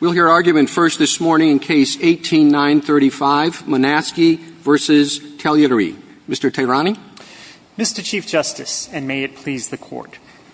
We'll hear argument first this morning in Case 18-935, Manasky v. Taglieri. Mr. Tehrani? Mr. Chief Justice, and may it please the Court,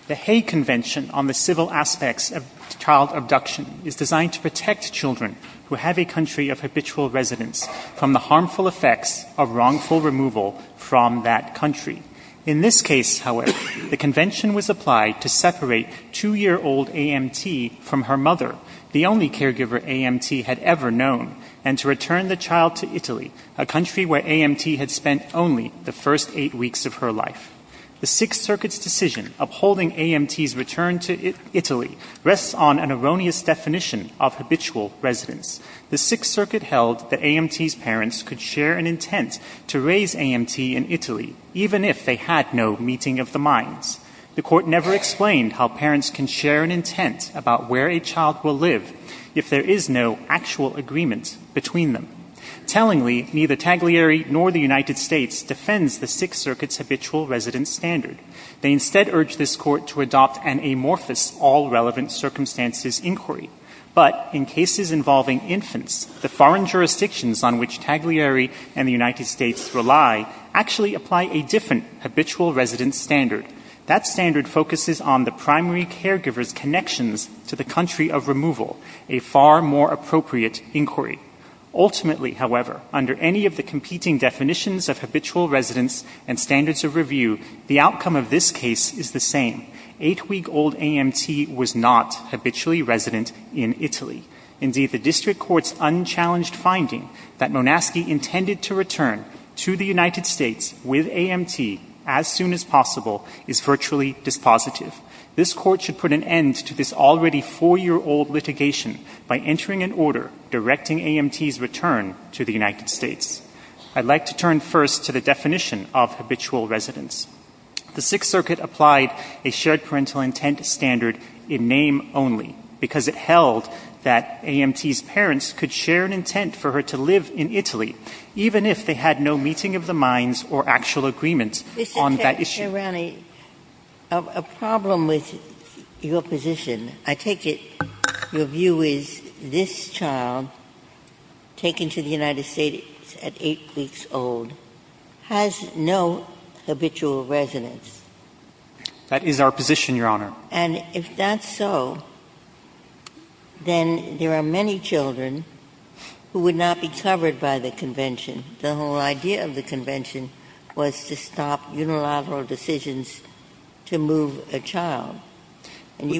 the Hay Convention on the Civil Aspects of Child Abduction is designed to protect children who have a country of habitual residence from the harmful effects of wrongful removal from that country. In this case, however, the convention was applied to separate two-year-old A.M.T. from her mother, the only caregiver A.M.T. had ever known, and to return the child to Italy, a country where A.M.T. had spent only the first eight weeks of her life. The Sixth Circuit's decision upholding A.M.T.'s return to Italy rests on an erroneous definition of habitual residence. The Sixth Circuit held that A.M.T.'s parents could share an intent to raise A.M.T. in Italy, even if they had no meeting of the minds. The Court never explained how parents can share an intent about where a child will live if there is no actual agreement between them. Tellingly, neither Taglieri nor the United States defends the Sixth Circuit's habitual residence standard. They instead urge this Court to adopt an amorphous all-relevant-circumstances inquiry. But in cases involving infants, the foreign jurisdictions on which Taglieri and the United States rely actually apply a different habitual residence standard. That standard focuses on the primary caregiver's connections to the country of removal, a far more appropriate inquiry. Ultimately, however, under any of the competing definitions of habitual residence and standards of review, the outcome of this case is the same. Eight-week-old A.M.T. was not habitually resident in Italy. Indeed, the District Court's unchallenged finding that Monaski intended to return to the United States with A.M.T. as soon as possible is virtually dispositive. This Court should put an end to this already four-year-old litigation by entering an order directing A.M.T.'s return to the United States. I'd like to turn first to the definition of habitual residence. The Sixth Circuit applied a shared parental intent standard in name only because it held that A.M.T.'s parents could share an intent for her to live in Italy, even if they had no meeting of the minds or actual agreement on that issue. Ginsburg. Mr. Tehrani, a problem with your position, I take it your view is this child taken to the United States at eight weeks old has no habitual residence? Tehrani. That is our position, Your Honor. Ginsburg. And if that's so, then there are many children who would not be covered by the Convention. The whole idea of the Convention was to stop unilateral decisions to move a case of very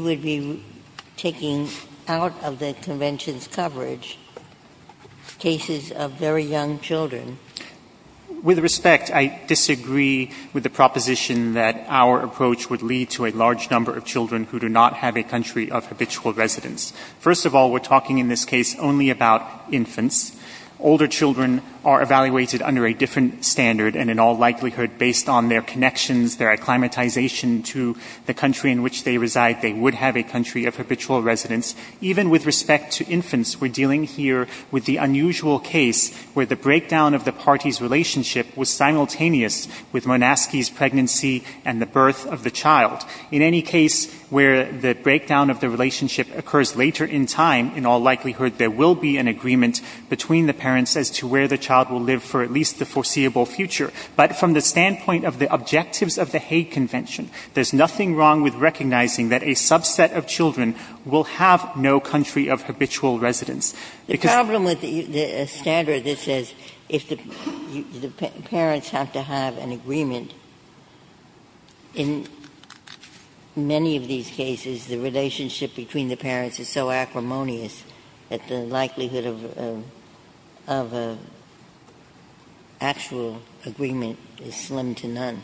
young children. Tehrani. With respect, I disagree with the proposition that our approach would lead to a large number of children who do not have a country of habitual residence. First of all, we're talking in this case only about infants. Older children are evaluated under a different standard, and in all likelihood, based on their connections, their acclimatization to the country in which they reside, they would have a country of habitual residence. Even with respect to infants, we're dealing here with the unusual case where the breakdown of the party's relationship was simultaneous with Monaski's pregnancy and the birth of the child. In any case where the breakdown of the relationship occurs later in time, in all likelihood, there will be an agreement between the parents as to where the child will live for at least the foreseeable future. But from the standpoint of the objectives of the Hague Convention, there's nothing wrong with recognizing that a subset of children will have no country of habitual residence. Because the problem with the standard that says if the parents have to have an agreement, in many of these cases, the relationship between the parents is so acrimonious that the likelihood of a actual agreement is slim to none.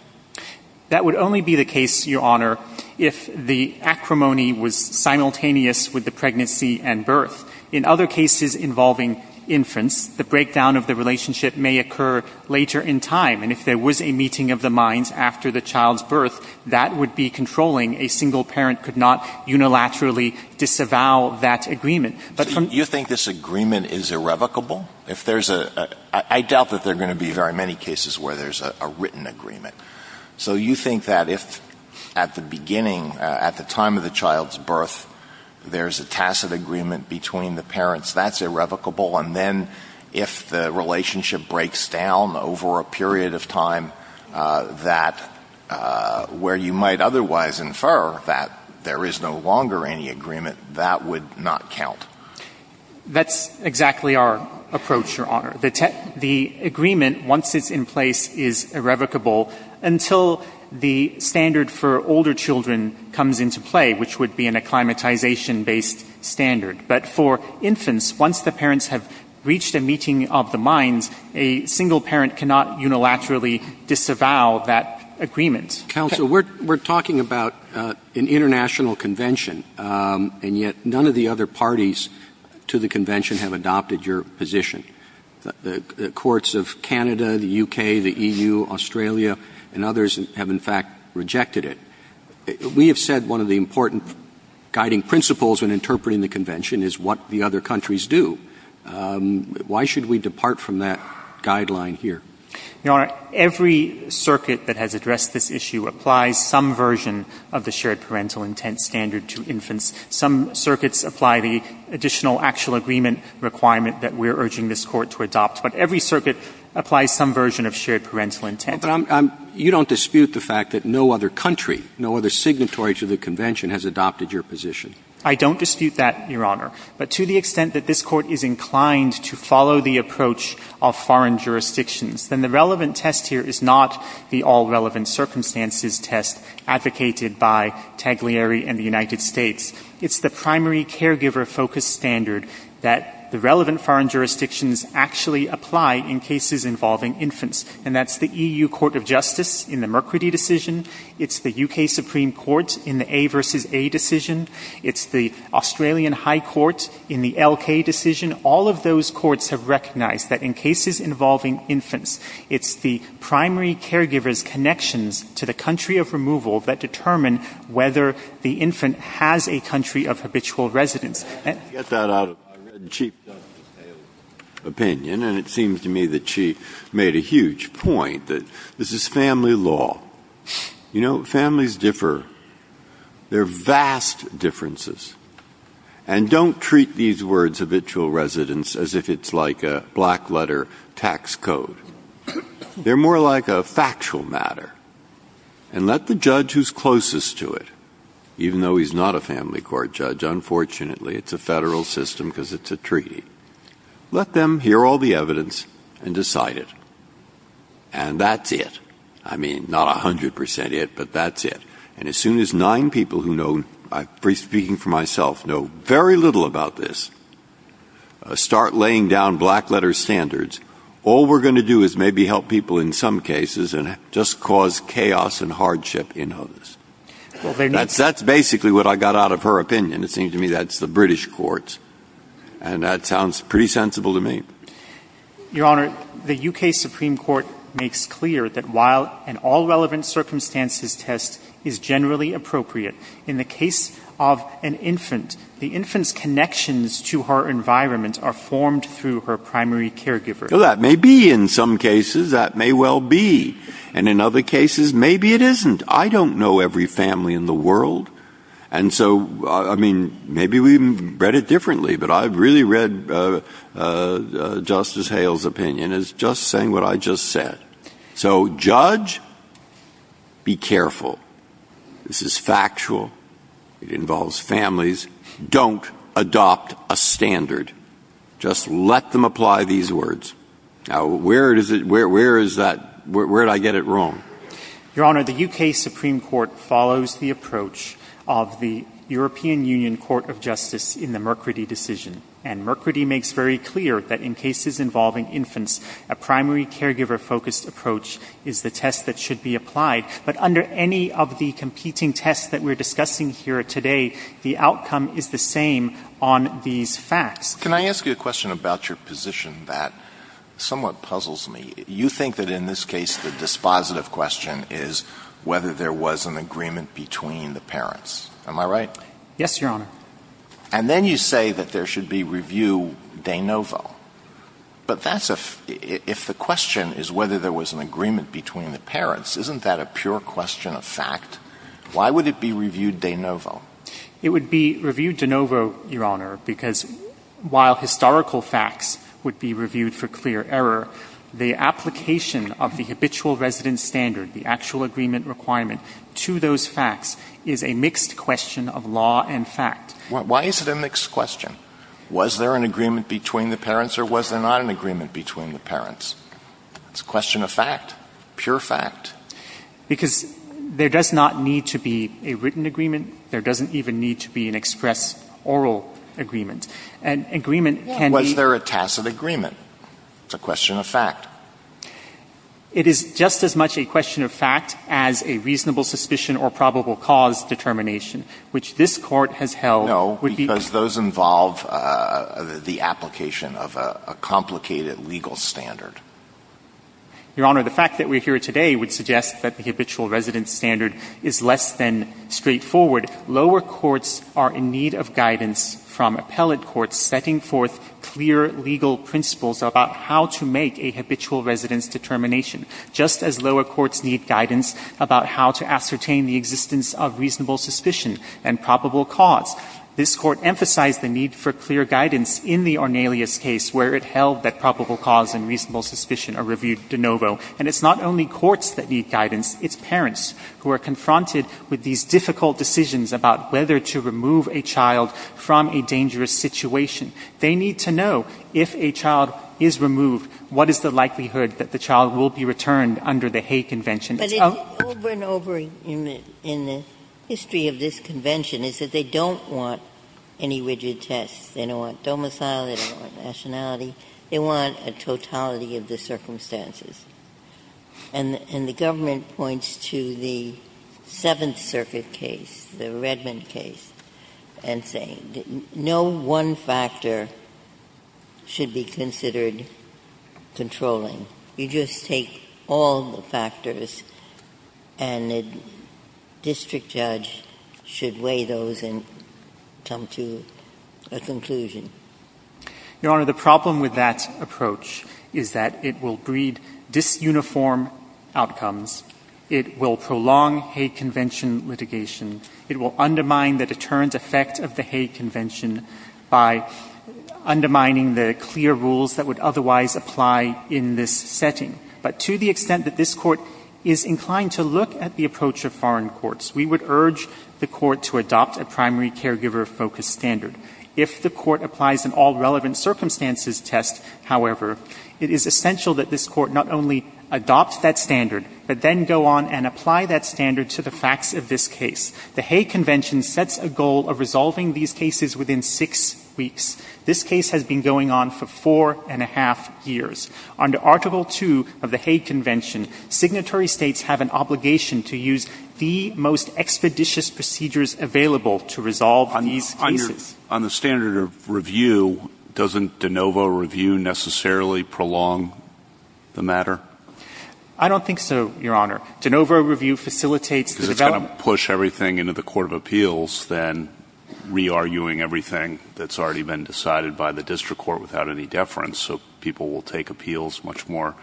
That would only be the case, Your Honor, if the acrimony was simultaneously with the pregnancy and birth. In other cases involving infants, the breakdown of the relationship may occur later in time. And if there was a meeting of the minds after the child's birth, that would be controlling. A single parent could not unilaterally disavow that agreement. But from — You think this agreement is irrevocable? If there's a — I doubt that there are going to be very many cases where there's a written agreement. So you think that if at the beginning, at the time of the child's birth, there's a tacit agreement between the parents, that's irrevocable? And then if the relationship breaks down over a period of time that — where you might otherwise infer that there is no longer any agreement, that would not count? That's exactly our approach, Your Honor. The agreement, once it's in place, is irrevocable until the standard for older children comes into play, which would be an acclimatization-based standard. But for infants, once the parents have reached a meeting of the minds, a single parent cannot unilaterally disavow that agreement. Counsel, we're — we're talking about an international convention, and yet none of the other parties to the convention have adopted your position. The courts of Canada, the U.K., the E.U., Australia, and others have, in fact, rejected it. We have said one of the important guiding principles in interpreting the convention is what the other countries do. Why should we depart from that guideline here? Your Honor, every circuit that has addressed this issue applies some version of the shared parental intent standard to infants. Some circuits apply the additional actual agreement requirement that we're urging this Court to adopt. But every circuit applies some version of shared parental intent. Well, but I'm — you don't dispute the fact that no other country, no other signatory to the convention, has adopted your position. I don't dispute that, Your Honor. But to the extent that this Court is inclined to follow the approach of foreign jurisdictions, then the relevant test here is not the all-relevant circumstances test advocated by Taglieri and the United States. It's the primary caregiver-focused standard that the relevant foreign jurisdictions actually apply in cases involving infants. And that's the E.U. Court of Justice in the Mercury decision. It's the U.K. Supreme Court in the A v. A decision. It's the Australian High Court in the L.K. decision. All of those courts have recognized that in cases involving infants, it's the primary caregiver's connections to the country of removal that determine whether the infant has a country of habitual residence. Get that out of my red-and-cheeked opinion. And it seems to me that she made a huge point, that this is family law. You know, families differ. There are vast differences. And don't treat these words, habitual residence, as if it's like a black-letter tax code. They're more like a factual matter. And let the judge who's closest to it, even though he's not a family court judge, unfortunately, it's a federal system because it's a treaty. Let them hear all the evidence and decide it. And that's it. I mean, not 100 percent it, but that's it. And as soon as nine people who know, speaking for myself, know very little about this, start laying down black-letter standards, all we're going to do is maybe help people in some cases and just cause chaos and hardship in others. That's basically what I got out of her opinion. It seems to me that's the British courts. And that sounds pretty sensible to me. Your Honor, the U.K. Supreme Court makes clear that while an all-relevant circumstances test is generally appropriate, in the case of an infant, the infant's connections to her environment are formed through her primary caregiver. That may be in some cases. That may well be. And in other cases, maybe it isn't. I don't know every family in the world. And so, I mean, maybe we even read it differently, but I've really read Justice Hale's opinion as just saying what I just said. So, judge, be careful. This is factual. It involves families. Don't adopt a standard. Just let them apply these words. Now, where does it, where is that, where did I get it wrong? Your Honor, the U.K. Supreme Court follows the approach of the European Union Court of Justice in the Merkredi decision. And Merkredi makes very clear that in cases involving infants, a primary caregiver-focused approach is the test that should be applied. But under any of the competing tests that we're discussing here today, the outcome is the same on these facts. Can I ask you a question about your position that somewhat puzzles me? You think that in this case, the dispositive question is whether there was an agreement between the parents. Am I right? Yes, Your Honor. And then you say that there should be review de novo. But that's a, if the question is whether there was an agreement between the parents, isn't that a pure question of fact? Why would it be reviewed de novo? It would be reviewed de novo, Your Honor, because while historical facts would be a mixed question of law and fact. Why is it a mixed question? Was there an agreement between the parents or was there not an agreement between the parents? It's a question of fact, pure fact. Because there does not need to be a written agreement. There doesn't even need to be an express oral agreement. An agreement can be — It is just as much a question of fact as a reasonable suspicion or probable cause determination, which this Court has held would be — No, because those involve the application of a complicated legal standard. Your Honor, the fact that we're here today would suggest that the habitual residence standard is less than straightforward. Lower courts are in need of guidance from clear legal principles about how to make a habitual residence determination, just as lower courts need guidance about how to ascertain the existence of reasonable suspicion and probable cause. This Court emphasized the need for clear guidance in the Ornelius case where it held that probable cause and reasonable suspicion are reviewed de novo. And it's not only courts that need guidance. It's parents who are confronted with these difficult decisions about whether to remove a child from a dangerous situation. They need to know, if a child is removed, what is the likelihood that the child will be returned under the Hague Convention. But it's over and over in the history of this convention is that they don't want any rigid tests. They don't want domicile. They don't want nationality. They want a totality of the circumstances. And the government points to the Seventh Circuit case, the Redmond case, and say, no one factor should be considered controlling. You just take all the factors and a district judge should weigh those and come to a conclusion. Your Honor, the problem with that approach is that it will breed disuniform outcomes. It will prolong Hague Convention litigation. It will undermine the deterrent effect of the Hague Convention by undermining the clear rules that would otherwise apply in this setting. But to the extent that this Court is inclined to look at the approach of foreign courts, we would urge the Court to adopt a primary caregiver-focused standard. If the Court applies an all-relevant circumstances test, however, it is essential that this Court not only adopt that standard, but then go on and apply that standard to the facts of this case. The Hague Convention sets a goal of resolving these cases within six weeks. This case has been going on for four and a half years. Under Article II of the Hague Convention, signatory states have an obligation to use the most expeditious procedures available to resolve these cases. On the standard of review, doesn't de novo review necessarily prolong the matter? I don't think so, Your Honor. De novo review facilitates the development Because it's going to push everything into the Court of Appeals than re-arguing everything that's already been decided by the district court without any deference. So people will take appeals much more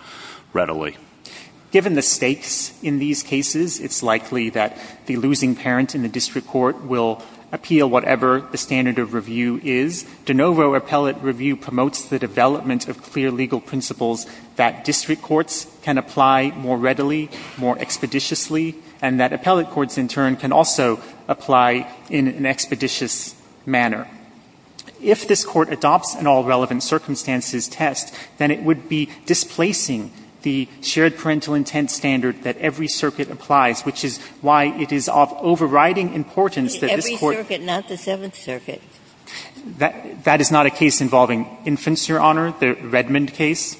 readily. Given the stakes in these cases, it's likely that the losing parent in the district court will appeal whatever the standard of review is. De novo appellate review promotes the development of clear legal principles that district courts can apply more readily, more expeditiously, and that appellate courts in turn can also apply in an expeditious manner. If this Court adopts an all-relevant circumstances test, then it would be displacing the shared parental intent standard that every circuit applies, which is why it is of overriding importance that this Court Every circuit, not the Seventh Circuit. That is not a case involving infants, Your Honor, the Redmond case.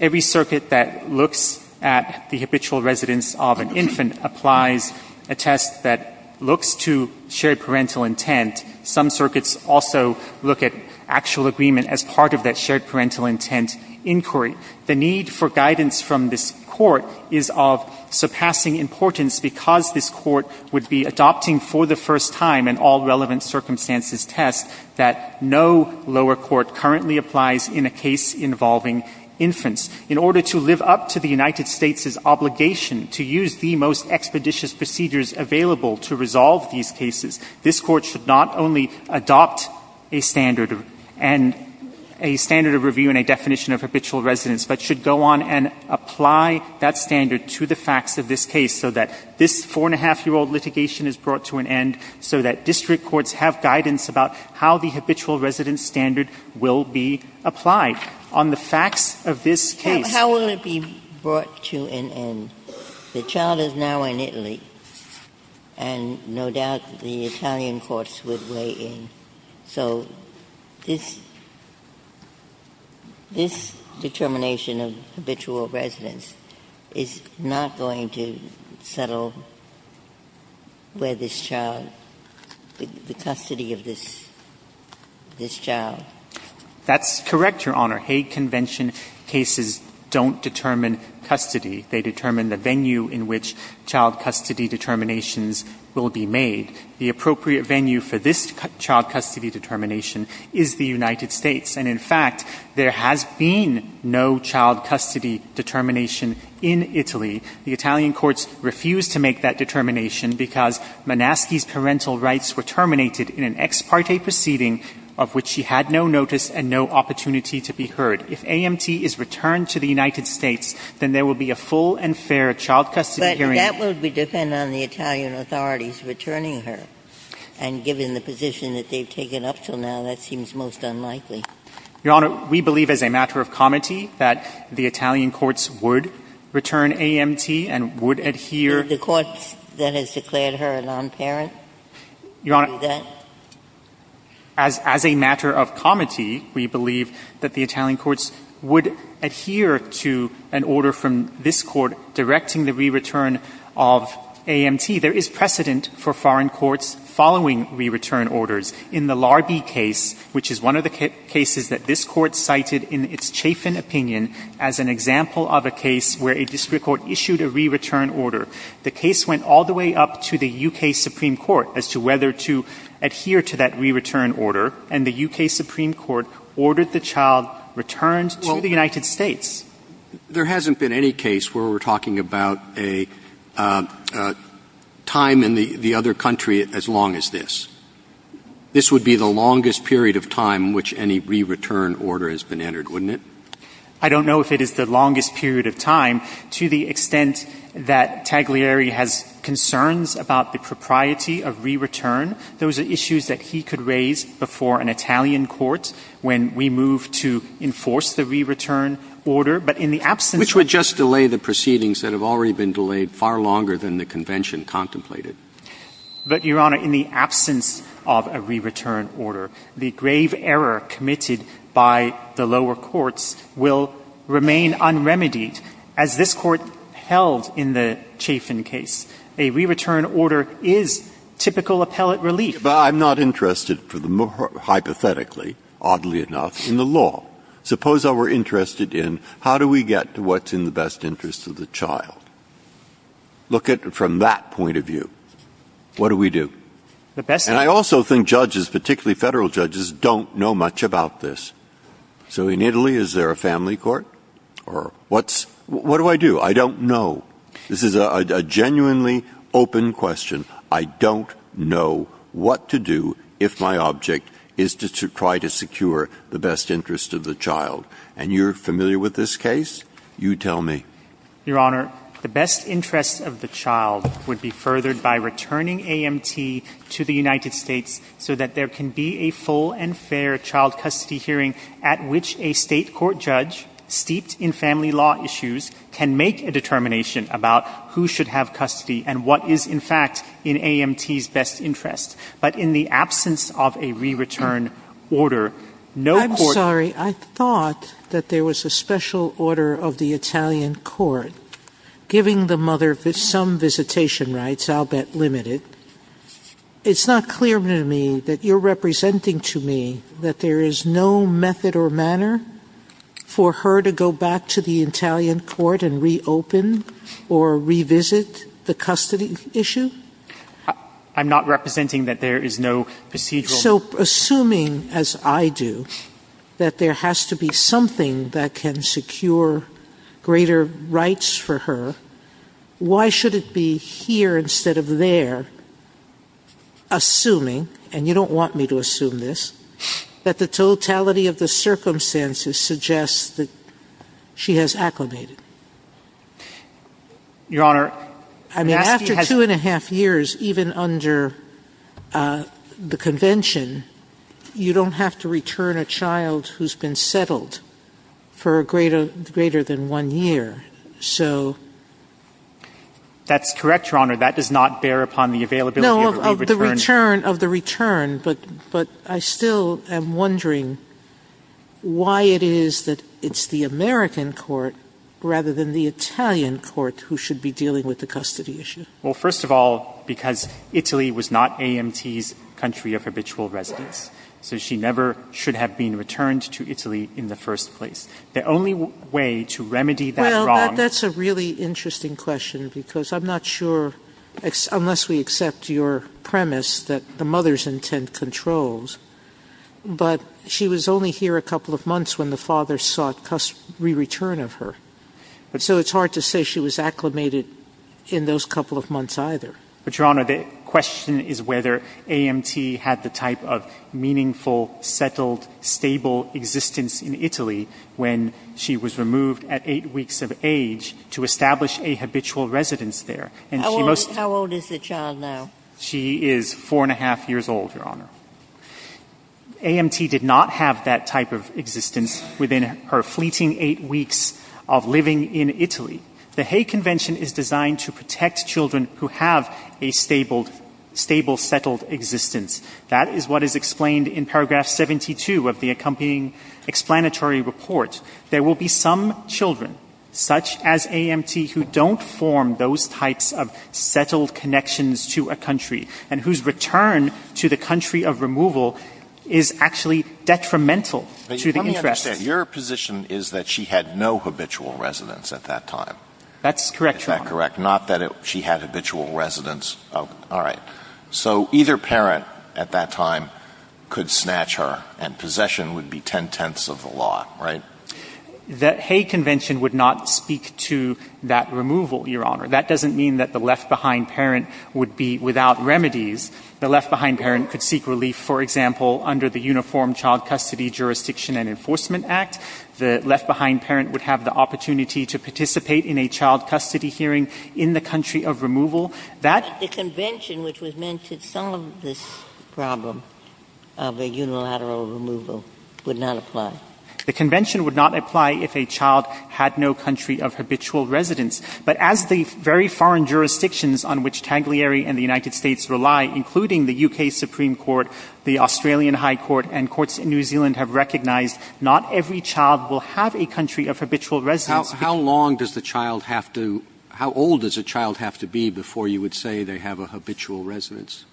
Every circuit that looks at the habitual residence of an infant applies a test that looks to shared parental intent. Some circuits also look at actual agreement as part of that shared parental intent inquiry. The need for guidance from this Court is of surpassing importance because this Court would be adopting for the first time an all-relevant circumstances test that no lower court currently applies in a case involving infants. In order to live up to the United States' obligation to use the most expeditious procedures available to resolve these cases, this Court should not only adopt a standard and a standard of review and a definition of habitual residence, but should go on and brought to an end so that district courts have guidance about how the habitual residence standard will be applied. On the facts of this case. Ginsburg. How will it be brought to an end? The child is now in Italy, and no doubt the Italian courts would weigh in. So this determination of habitual residence is not going to settle where this child the custody of this child? That's correct, Your Honor. Hague Convention cases don't determine custody. They determine the venue in which child custody determinations will be made. The appropriate venue for this child custody determination is the United States. And, in fact, there has been no child custody determination in Italy. The Italian courts refused to make that determination because Manaski's parental rights were terminated in an ex parte proceeding of which she had no notice and no opportunity to be heard. If AMT is returned to the United States, then there will be a full and fair child custody hearing. But that would depend on the Italian authorities returning her. And given the position that they have taken up until now, that seems most unlikely. Your Honor, we believe as a matter of comity that the Italian courts would return AMT and would adhere. Did the courts that has declared her a nonparent do that? Your Honor, as a matter of comity, we believe that the Italian courts would adhere to an order from this Court directing the re-return of AMT. There is precedent for foreign courts following re-return orders. In the Larbi case, which is one of the cases that this Court cited in its chafing opinion as an example of a case where a district court issued a re-return order, the case went all the way up to the U.K. Supreme Court as to whether to adhere to that re-return order. And the U.K. Supreme Court ordered the child returned to the United States. There hasn't been any case where we're talking about a time in the other country as long as this. This would be the longest period of time in which any re-return order has been entered, wouldn't it? I don't know if it is the longest period of time. To the extent that Taglieri has concerns about the propriety of re-return, those are issues that he could raise before an Italian court when we move to enforce the re-return order. But in the absence of a re-return order, the grave error committed by the lower courts will remain unremedied, as this Court held in the Chafin case. A re-return order is typical appellate relief. But I'm not interested, hypothetically, oddly enough, in the law. Suppose I were interested in how do we get to what's in the best interest of the child. Look at it from that point of view. What do we do? And I also think judges, particularly Federal judges, don't know much about this. So in Italy, is there a family court? Or what's — what do I do? I don't know. This is a genuinely open question. I don't know what to do if my object is to try to secure the best interest of the child. And you're familiar with this case? You tell me. Your Honor, the best interest of the child would be furthered by returning AMT to the United States so that there can be a full and fair child custody hearing at which a State court judge, steeped in family law issues, can make a determination about who should have custody and what is, in fact, in AMT's best interest. But in the absence of a re-return order, no court — I'm sorry. I thought that there was a special order of the Italian court giving the mother some visitation rights, I'll bet limited. It's not clear to me that you're representing to me that there is no method or procedure to reopen or revisit the custody issue? I'm not representing that there is no procedural — So assuming, as I do, that there has to be something that can secure greater rights for her, why should it be here instead of there, assuming — and you don't want me to assume this — that the totality of the circumstances suggests that she has acclimated? Your Honor — I mean, after two and a half years, even under the convention, you don't have to return a child who's been settled for a greater — greater than one year. So — That's correct, Your Honor. That does not bear upon the availability of a re-return. No, of the return, but I still am wondering why it is that it's the American court rather than the Italian court who should be dealing with the custody issue. Well, first of all, because Italy was not AMT's country of habitual residence, so she never should have been returned to Italy in the first place. The only way to remedy that wrong — Well, that's a really interesting question because I'm not sure, unless we accept your premise, that the mother's intent controls, but she was only here a couple of months when the father sought re-return of her. So it's hard to say she was acclimated in those couple of months either. But, Your Honor, the question is whether AMT had the type of meaningful, settled, stable existence in Italy when she was removed at eight weeks of age to establish a habitual residence there. How old is the child now? She is four and a half years old, Your Honor. AMT did not have that type of existence within her fleeting eight weeks of living in Italy. The Hay Convention is designed to protect children who have a stable, settled existence. That is what is explained in paragraph 72 of the accompanying explanatory report. There will be some children, such as AMT, who don't form those types of settled connections to a country and whose return to the country of removal is actually detrimental to the interests. Let me understand. Your position is that she had no habitual residence at that time. That's correct, Your Honor. Is that correct? Not that she had habitual residence. All right. So either parent at that time could snatch her and possession would be ten-tenths of the lot, right? The Hay Convention would not speak to that removal, Your Honor. That doesn't mean that the left-behind parent would be without remedies. The left-behind parent could seek relief, for example, under the Uniform Child Custody Jurisdiction and Enforcement Act. The left-behind parent would have the opportunity to participate in a child custody hearing in the country of removal. But the convention which was meant to solve this problem of a unilateral removal would not apply. The convention would not apply if a child had no country of habitual residence. But as the very foreign jurisdictions on which Tanglieri and the United States rely, including the U.K. Supreme Court, the Australian High Court, and courts in New Zealand have recognized, not every child will have a country of habitual residence. How long does the child have to – how old does a child have to be before you would say they have a habitual residence?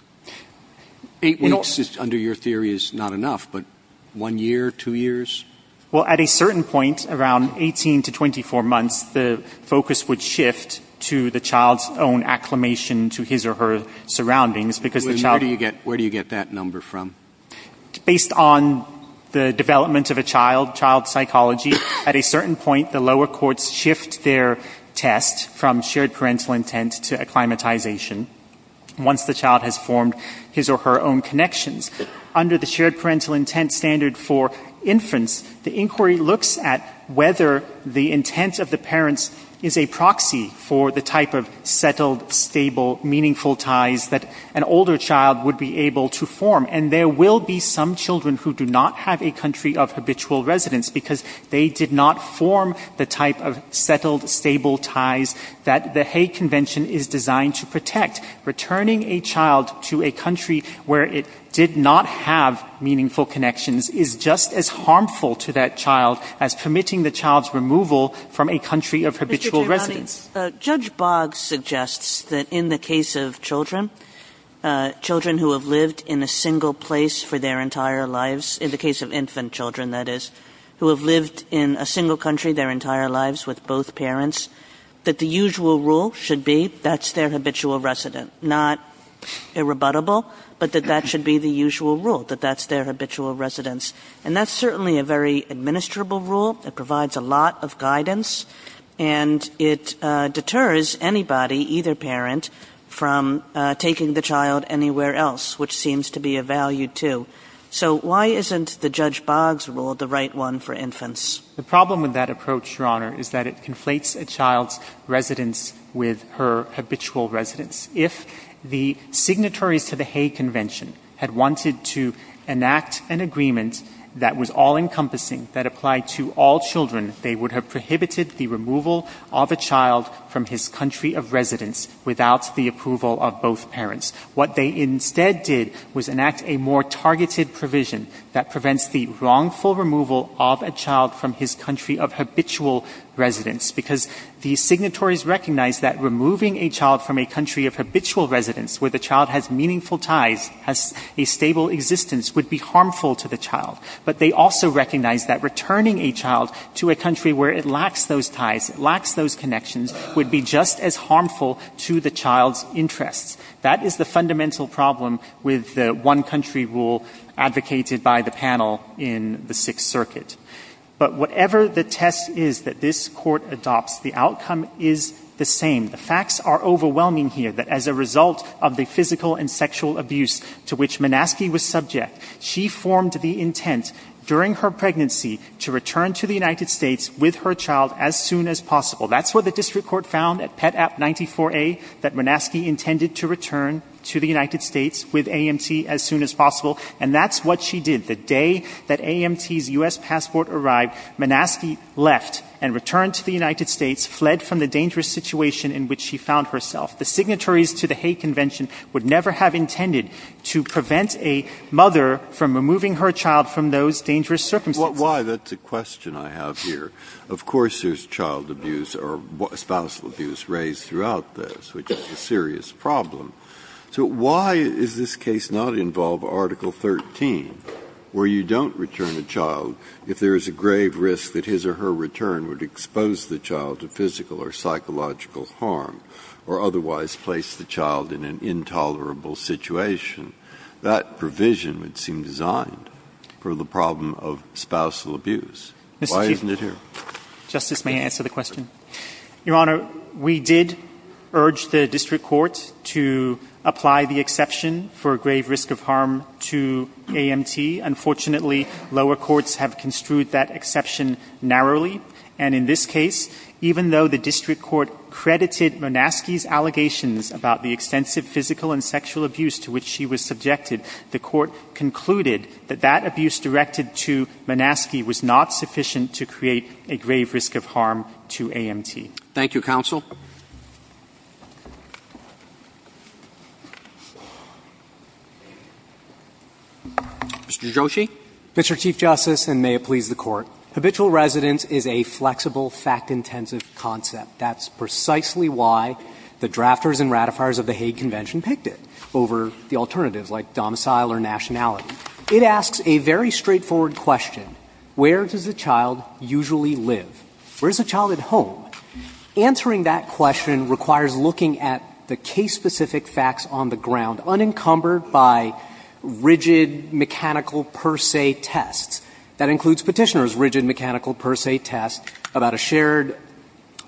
Eight weeks, under your theory, is not enough, but one year, two years? Well, at a certain point, around 18 to 24 months, the focus would shift to the child's own acclimation to his or her surroundings because the child – Where do you get that number from? Based on the development of a child, child psychology, at a certain point, the lower courts shift their test from shared parental intent to acclimatization once the child has formed his or her own connections. Under the shared parental intent standard for inference, the inquiry looks at whether the intent of the parents is a proxy for the type of settled, stable, meaningful ties that an older child would be able to form. And there will be some children who do not have a country of habitual residence because they did not form the type of settled, stable ties that the Hague Convention is designed to protect. Returning a child to a country where it did not have meaningful connections is just as harmful to that child as permitting the child's removal from a country of habitual residence. Mr. Girani, Judge Boggs suggests that in the case of children, children who have lived in a single place for their entire lives – in the case of infant children, that is – who have lived in a single country their entire lives with both parents, that the usual rule should be that's their habitual residence, not irrebuttable, but that that should be the usual rule, that that's their habitual residence. And that's certainly a very administrable rule. It provides a lot of guidance. And it deters anybody, either parent, from taking the child anywhere else, which seems to be a value, too. So why isn't the Judge Boggs rule the right one for infants? The problem with that approach, Your Honor, is that it conflates a child's residence with her habitual residence. If the signatories to the Hague Convention had wanted to enact an agreement that was all-encompassing, that applied to all children, they would have prohibited the removal of a child from his country of residence without the approval of both parents. What they instead did was enact a more targeted provision that prevents the wrongful removal of a child from his country of habitual residence, because the signatories recognize that removing a child from a country of habitual residence where the child has meaningful ties, has a stable existence, would be harmful to the child. But they also recognize that returning a child to a country where it lacks those ties, it lacks those connections, would be just as harmful to the child's interests. That is the fundamental problem with the one-country rule advocated by the panel in the Sixth Circuit. But whatever the test is that this Court adopts, the outcome is the same. The facts are overwhelming here, that as a result of the physical and sexual abuse to which Minaski was subject, she formed the intent during her pregnancy to return to the United States with her child as soon as possible. That's what the district court found at Pet. App. 94A, that Minaski intended to return to the United States with AMT as soon as possible. And that's what she did. The day that AMT's U.S. passport arrived, Minaski left and returned to the United States, fled from the dangerous situation in which she found herself. The signatories to the Hague Convention would never have intended to prevent a mother from removing her child from those dangerous circumstances. Breyer. Why? That's a question I have here. Of course there's child abuse or spousal abuse raised throughout this, which is a serious problem. So why does this case not involve Article 13, where you don't return a child if there is a grave risk that his or her return would expose the child to physical or psychological harm, or otherwise place the child in an intolerable situation? That provision would seem designed for the problem of spousal abuse. Why isn't it here? Mr. Chief Justice, may I answer the question? Your Honor, we did urge the district court to apply the exception for grave risk of harm to AMT. Unfortunately, lower courts have construed that exception narrowly. And in this case, even though the district court credited Minaski's allegations about the extensive physical and sexual abuse to which she was subjected, the court concluded that that abuse directed to Minaski was not sufficient to create a grave risk of harm to AMT. Thank you, counsel. Mr. Joshi. Mr. Chief Justice, and may it please the Court. Habitual residence is a flexible, fact-intensive concept. That's precisely why the drafters and ratifiers of the Hague Convention picked it over the alternatives, like domicile or nationality. It asks a very straightforward question. Where does a child usually live? Where is the child at home? Answering that question requires looking at the case-specific facts on the ground, unencumbered by rigid mechanical per se tests. That includes Petitioner's rigid mechanical per se test about a shared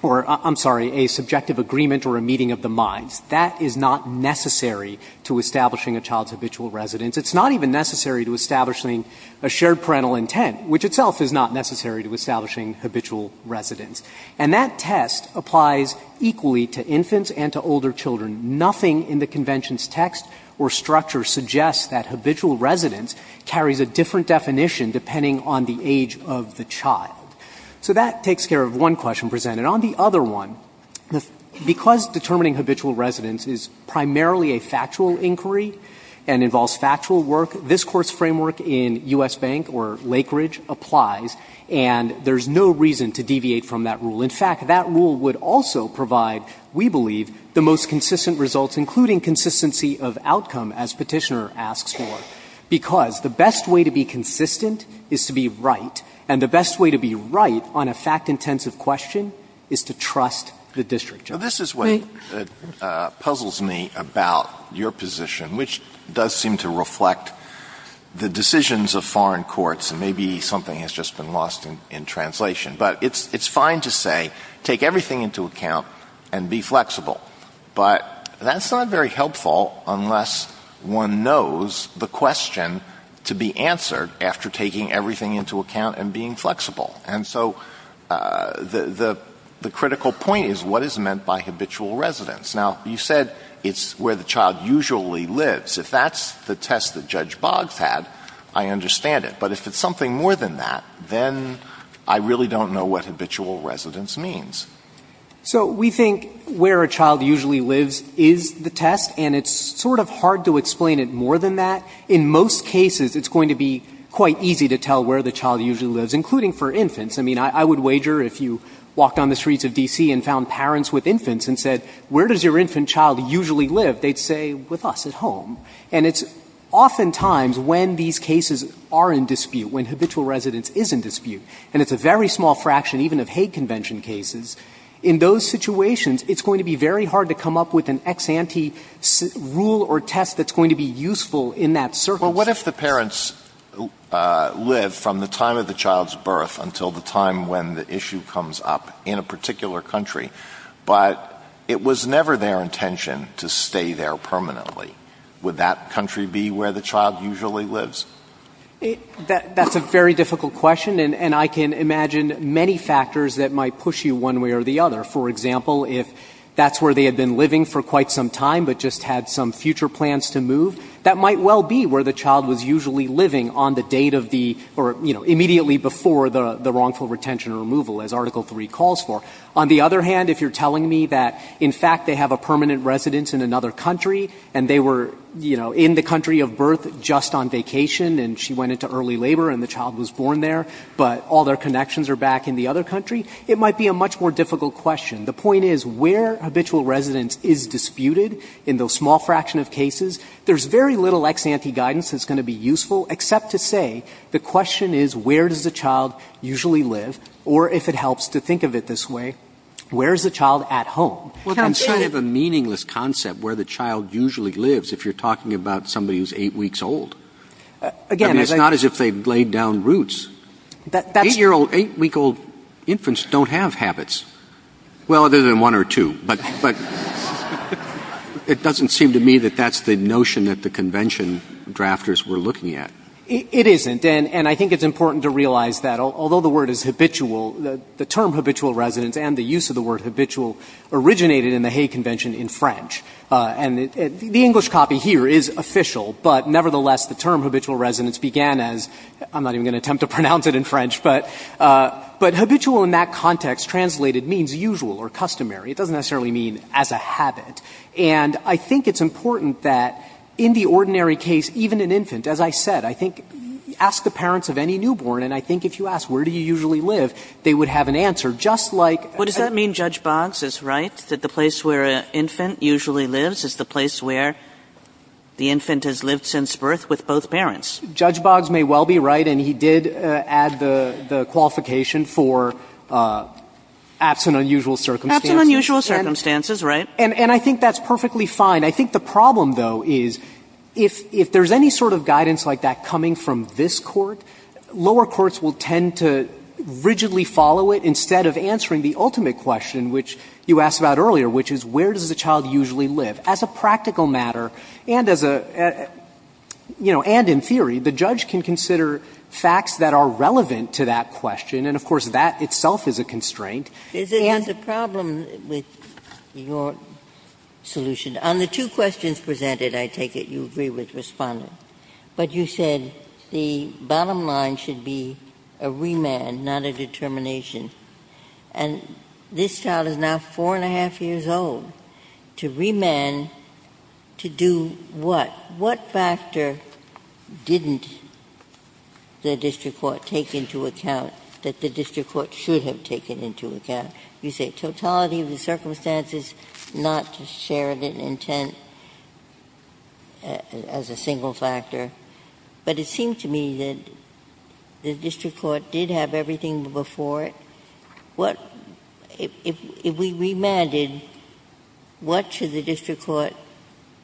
or, I'm sorry, a subjective agreement or a meeting of the minds. That is not necessary to establishing a child's habitual residence. It's not even necessary to establishing a shared parental intent, which itself is not necessary to establishing habitual residence. And that test applies equally to infants and to older children. Nothing in the Convention's text or structure suggests that habitual residence carries a different definition depending on the age of the child. So that takes care of one question presented. This Court's framework in U.S. Bank or Lakeridge applies. And there's no reason to deviate from that rule. In fact, that rule would also provide, we believe, the most consistent results, including consistency of outcome, as Petitioner asks for. Because the best way to be consistent is to be right, and the best way to be right on a fact-intensive question is to trust the district judge. So this is what puzzles me about your position, which does seem to reflect the decisions of foreign courts, and maybe something has just been lost in translation. But it's fine to say, take everything into account and be flexible. But that's not very helpful unless one knows the question to be answered after taking everything into account and being flexible. And so the critical point is what is meant by habitual residence. Now, you said it's where the child usually lives. If that's the test that Judge Boggs had, I understand it. But if it's something more than that, then I really don't know what habitual residence means. So we think where a child usually lives is the test, and it's sort of hard to explain it more than that. In most cases, it's going to be quite easy to tell where the child usually lives, including for infants. I mean, I would wager if you walked on the streets of D.C. and found parents with infants and said, where does your infant child usually live? They'd say, with us at home. And it's oftentimes when these cases are in dispute, when habitual residence is in dispute, and it's a very small fraction even of Hague Convention cases, in those situations, it's going to be very hard to come up with an ex ante rule or test that's going to be useful in that circumstance. Well, what if the parents live from the time of the child's birth until the time when the issue comes up in a particular country, but it was never their intention to stay there permanently? Would that country be where the child usually lives? That's a very difficult question, and I can imagine many factors that might push you one way or the other. For example, if that's where they had been living for quite some time but just had some future plans to move, that might well be where the child was usually living on the date of the or, you know, immediately before the wrongful retention or removal, as Article III calls for. On the other hand, if you're telling me that, in fact, they have a permanent residence in another country, and they were, you know, in the country of birth just on vacation, and she went into early labor and the child was born there, but all their connections are back in the other country, it might be a much more difficult question. The point is where habitual residence is disputed in the small fraction of cases, there's very little ex ante guidance that's going to be useful except to say the question is where does the child usually live, or if it helps to think of it this way, where is the child at home? And so you have a meaningless concept where the child usually lives if you're talking about somebody who's 8 weeks old. I mean, it's not as if they've laid down roots. Eight-year-old, 8-week-old infants don't have habits. Well, other than one or two. But it doesn't seem to me that that's the notion that the convention drafters were looking at. It isn't. And I think it's important to realize that, although the word is habitual, the term habitual residence and the use of the word habitual originated in the Hay Convention in French. And the English copy here is official, but nevertheless, the term habitual residence began as — I'm not even going to attempt to pronounce it in French, but habitual in that context translated means usual or customary. It doesn't necessarily mean as a habit. And I think it's important that in the ordinary case, even an infant, as I said, I think ask the parents of any newborn, and I think if you ask where do you usually live, they would have an answer, just like — Kagan. But does that mean Judge Boggs is right, that the place where an infant usually lives is the place where the infant has lived since birth with both parents? Judge Boggs may well be right, and he did add the qualification for absent unusual circumstances. Absent unusual circumstances, right. And I think that's perfectly fine. I think the problem, though, is if there's any sort of guidance like that coming from this Court, lower courts will tend to rigidly follow it instead of answering the ultimate question, which you asked about earlier, which is where does the child usually live, as a practical matter and as a, you know, and in theory, the judge can consider facts that are relevant to that question, and of course that itself is a constraint. And the problem with your solution, on the two questions presented, I take it you agree with Respondent. But you said the bottom line should be a remand, not a determination. And this child is now four and a half years old. To remand, to do what? What factor didn't the district court take into account that the district court should have taken into account? You say totality of the circumstances, not to share an intent as a single factor. But it seems to me that the district court did have everything before it. What, if we remanded, what should the district court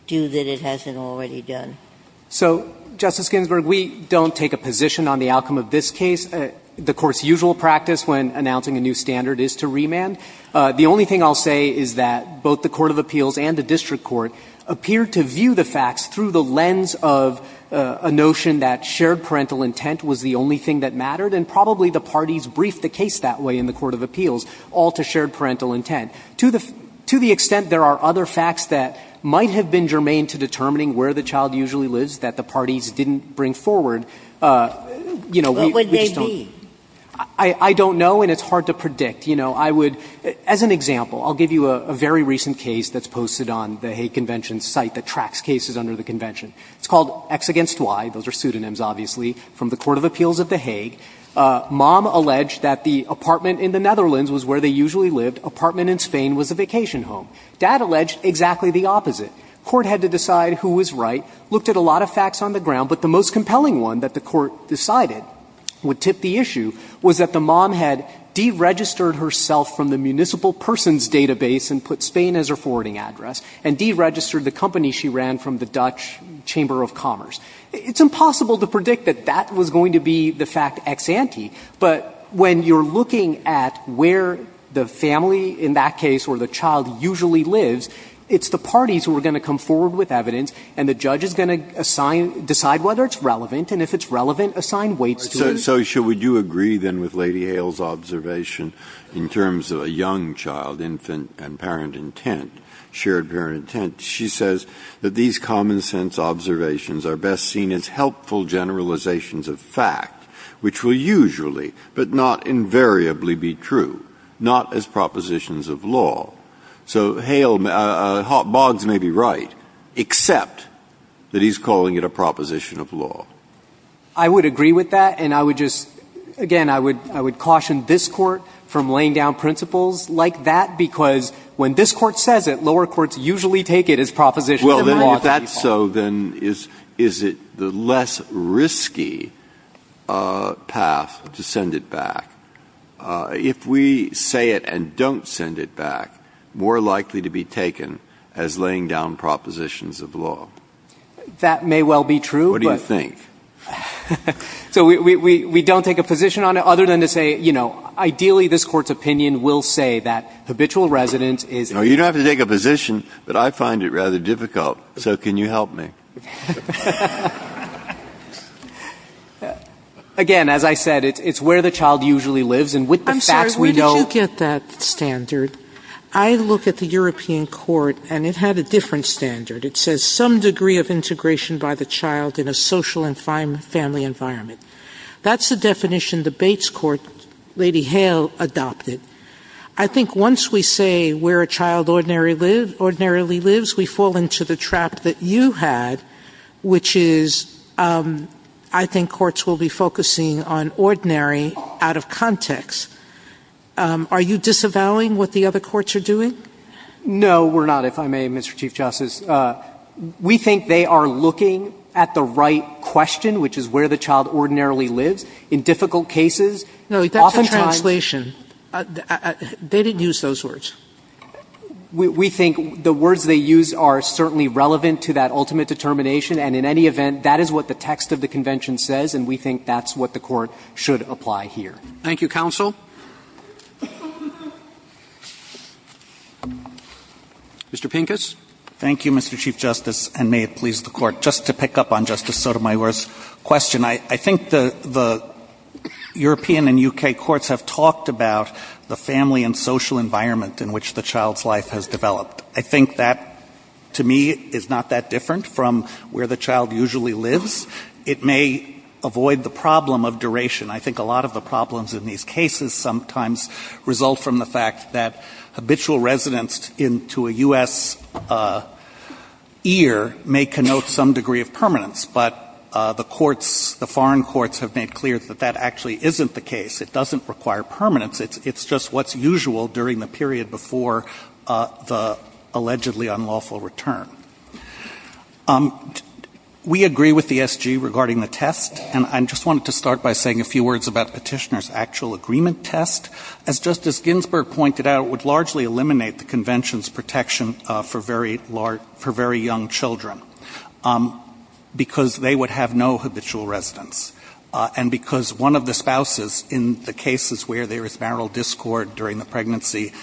do that it hasn't already done? So, Justice Ginsburg, we don't take a position on the outcome of this case. The Court's usual practice when announcing a new standard is to remand. The only thing I'll say is that both the court of appeals and the district court appear to view the facts through the lens of a notion that shared parental intent was the only thing that mattered. And probably the parties briefed the case that way in the court of appeals, all to shared parental intent. To the extent there are other facts that might have been germane to determining where the child usually lives that the parties didn't bring forward, you know, we just don't know. I don't know, and it's hard to predict. You know, I would, as an example, I'll give you a very recent case that's posted on the Hague Convention site that tracks cases under the convention. It's called X against Y. Those are pseudonyms, obviously, from the court of appeals of the Hague. Mom alleged that the apartment in the Netherlands was where they usually lived. Apartment in Spain was a vacation home. Dad alleged exactly the opposite. Court had to decide who was right. Looked at a lot of facts on the ground, but the most compelling one that the Court decided would tip the issue was that the mom had deregistered herself from the municipal person's database and put Spain as her forwarding address, and deregistered the company she ran from the Dutch Chamber of Commerce. It's impossible to predict that that was going to be the fact ex ante, but when you're looking at where the family in that case or the child usually lives, it's the parties who are going to come forward with evidence, and the judge is going to assign, decide whether it's relevant, and if it's relevant, assign weights to it. Breyer. So shall we do agree, then, with Lady Hale's observation in terms of a young child, infant, and parent intent, shared parent intent? She says that these common-sense observations are best seen as helpful generalizations of fact, which will usually but not invariably be true, not as propositions of law. So Hale, Boggs may be right, except that he's calling it a proposition of law. I would agree with that, and I would just, again, I would caution this Court from laying down principles like that, because when this Court says it, lower courts usually take it as propositions of law. Well, then, if that's so, then is it the less risky path to send it back? If we say it and don't send it back, more likely to be taken as laying down propositions of law. That may well be true. What do you think? So we don't take a position on it? Other than to say, you know, ideally this Court's opinion will say that habitual residence is a... No, you don't have to take a position, but I find it rather difficult, so can you help me? Again, as I said, it's where the child usually lives, and with the facts we know... I'm sorry. Where did you get that standard? I look at the European Court, and it had a different standard. It says some degree of integration by the child in a social and family environment. That's the definition the Bates Court, Lady Hale, adopted. I think once we say where a child ordinarily lives, we fall into the trap that you had, which is, I think courts will be focusing on ordinary out of context. Are you disavowing what the other courts are doing? No, we're not, if I may, Mr. Chief Justice. We think they are looking at the right question, which is where the child ordinarily lives, in difficult cases. Oftentimes... No, that's a translation. They didn't use those words. We think the words they use are certainly relevant to that ultimate determination, and in any event, that is what the text of the Convention says, and we think that's what the Court should apply here. Thank you, counsel. Mr. Pincus. Thank you, Mr. Chief Justice, and may it please the Court. Just to pick up on Justice Sotomayor's question, I think the European and U.K. courts have talked about the family and social environment in which the child's life has developed. I think that, to me, is not that different from where the child usually lives. It may avoid the problem of duration. I think a lot of the problems in these cases sometimes result from the fact that habitual residence into a U.S. ear may connote some degree of permanence, but the courts, the foreign courts, have made clear that that actually isn't the case. It doesn't require permanence. It's just what's usual during the period before the allegedly unlawful return. We agree with the SG regarding the test, and I just wanted to start by saying a few words about Petitioner's actual agreement test. As Justice Ginsburg pointed out, it would largely eliminate the Convention's protection for very young children because they would have no habitual residence, and because one of the spouses in the cases where there is marital discord during the pregnancy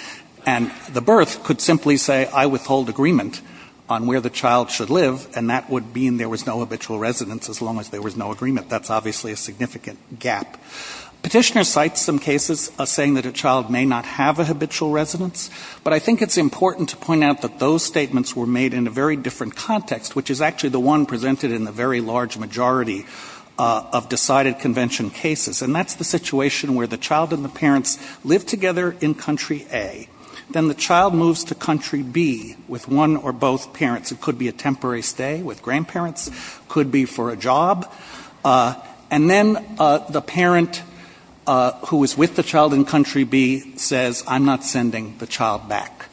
and the birth could simply say, I withhold agreement on where the child should live, and that would mean there was no habitual residence as long as there was no agreement. That's obviously a significant gap. Petitioner cites some cases saying that a child may not have a habitual residence, but I think it's important to point out that those statements were made in a very different context, which is actually the one presented in the very large majority of decided Convention cases, and that's the situation where the child and the parents live together in Country A. Then the child moves to Country B with one or both parents. It could be a temporary stay with grandparents. It could be for a job. And then the parent who is with the child in Country B says, I'm not sending the child back.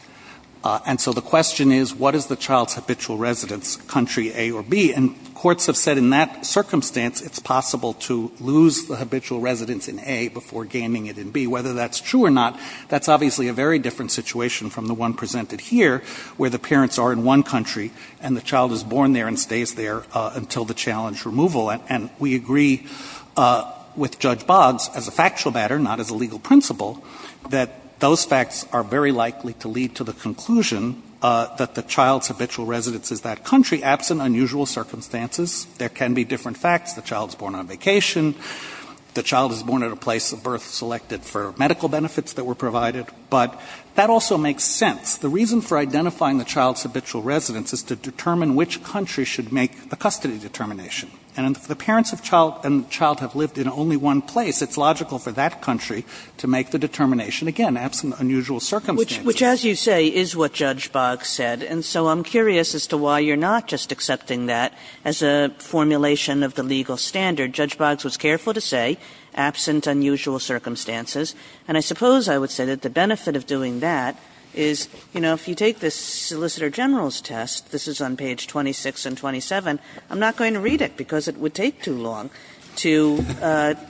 And so the question is, what is the child's habitual residence, Country A or B? And courts have said in that circumstance it's possible to lose the habitual residence in A before gaining it in B. Whether that's true or not, that's obviously a very different situation from the case where the parents are in one country and the child is born there and stays there until the challenge removal. And we agree with Judge Boggs, as a factual matter, not as a legal principle, that those facts are very likely to lead to the conclusion that the child's habitual residence is that country, absent unusual circumstances. There can be different facts. The child is born on vacation. The child is born at a place of birth selected for medical benefits that were provided. But that also makes sense. The reason for identifying the child's habitual residence is to determine which country should make the custody determination. And if the parents and child have lived in only one place, it's logical for that country to make the determination, again, absent unusual circumstances. Kagan. Which, as you say, is what Judge Boggs said. And so I'm curious as to why you're not just accepting that as a formulation of the legal standard. Judge Boggs was careful to say absent unusual circumstances. And I suppose I would say that the benefit of doing that is, you know, if you take this Solicitor General's test, this is on page 26 and 27, I'm not going to read it because it would take too long to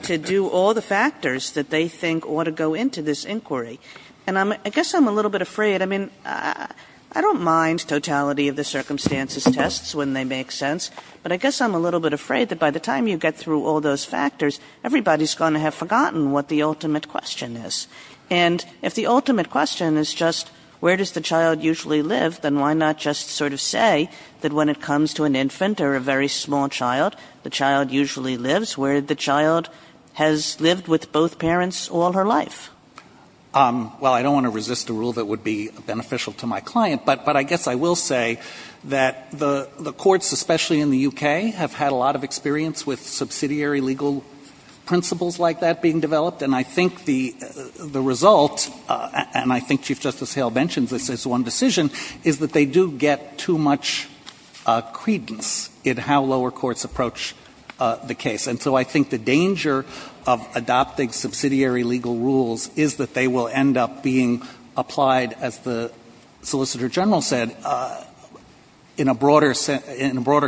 do all the factors that they think ought to go into this inquiry. And I guess I'm a little bit afraid. I mean, I don't mind totality of the circumstances tests when they make sense. But I guess I'm a little bit afraid that by the time you get through all those factors, everybody's going to have forgotten what the ultimate question is. And if the ultimate question is just where does the child usually live, then why not just sort of say that when it comes to an infant or a very small child, the child usually lives where the child has lived with both parents all her life? Well, I don't want to resist a rule that would be beneficial to my client. But I guess I will say that the courts, especially in the U.K., have had a lot of experience with subsidiary legal principles like that being developed. And I think the result, and I think Chief Justice Hale mentions this as one decision, is that they do get too much credence in how lower courts approach the case. And so I think the danger of adopting subsidiary legal rules is that they will end up being applied, as the Solicitor General said, in a broader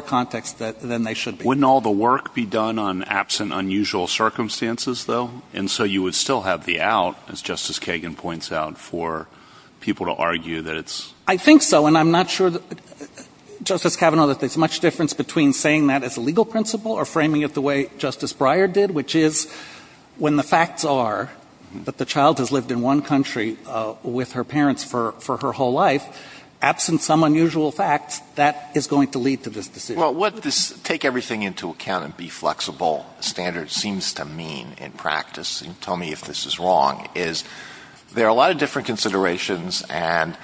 context than they should be. Wouldn't all the work be done on absent unusual circumstances, though? And so you would still have the out, as Justice Kagan points out, for people to argue that it's... I think so. And I'm not sure, Justice Kavanaugh, that there's much difference between saying that as a legal principle or framing it the way Justice Breyer did, which is when the facts are that the child has lived in one country with her parents for her whole life, absent some unusual facts, that is going to lead to this decision. Well, what this take-everything-into-account-and-be-flexible standard seems to mean in practice, and you can tell me if this is wrong, is there are a lot of different considerations, and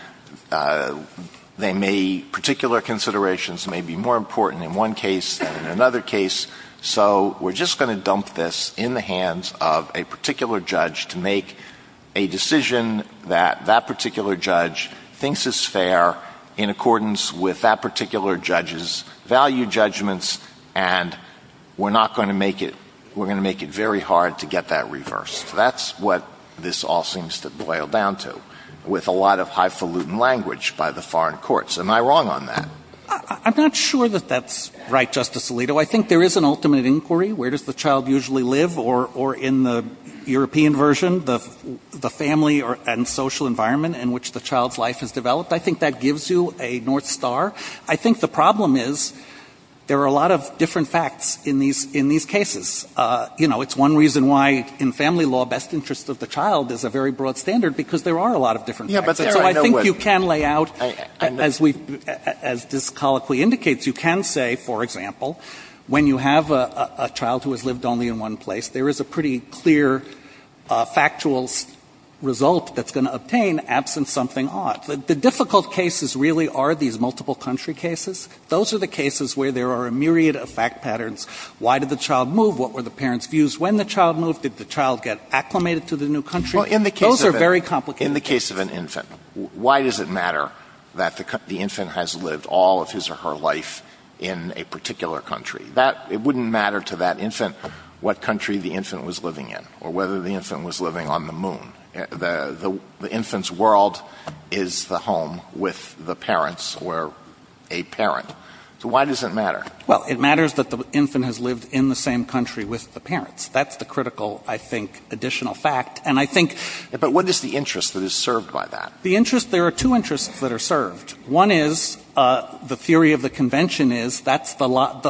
they may, particular considerations may be more important in one case than in another case. So we're just going to dump this in the hands of a particular judge to make a decision that that particular judge thinks is fair in accordance with that set of your judgments, and we're not going to make it, we're going to make it very hard to get that reversed. That's what this all seems to boil down to, with a lot of highfalutin language by the foreign courts. Am I wrong on that? I'm not sure that that's right, Justice Alito. I think there is an ultimate inquiry, where does the child usually live, or in the European version, the family and social environment in which the child's life has developed. I think that gives you a North Star. I think the problem is there are a lot of different facts in these cases. You know, it's one reason why in family law, best interest of the child is a very broad standard, because there are a lot of different facts. And so I think you can lay out, as we've, as this colloquy indicates, you can say, for example, when you have a child who has lived only in one place, there is a pretty clear factual result that's going to obtain, absent something odd. The difficult cases really are these multiple country cases. Those are the cases where there are a myriad of fact patterns. Why did the child move? What were the parents' views when the child moved? Did the child get acclimated to the new country? Those are very complicated cases. In the case of an infant, why does it matter that the infant has lived all of his or her life in a particular country? It wouldn't matter to that infant what country the infant was living in, or whether the infant was living on the moon. The infant's world is the home with the parents or a parent. So why does it matter? Well, it matters that the infant has lived in the same country with the parents. That's the critical, I think, additional fact. And I think the interest, there are two interests that are served. One is, the theory of the convention is, that's the lot,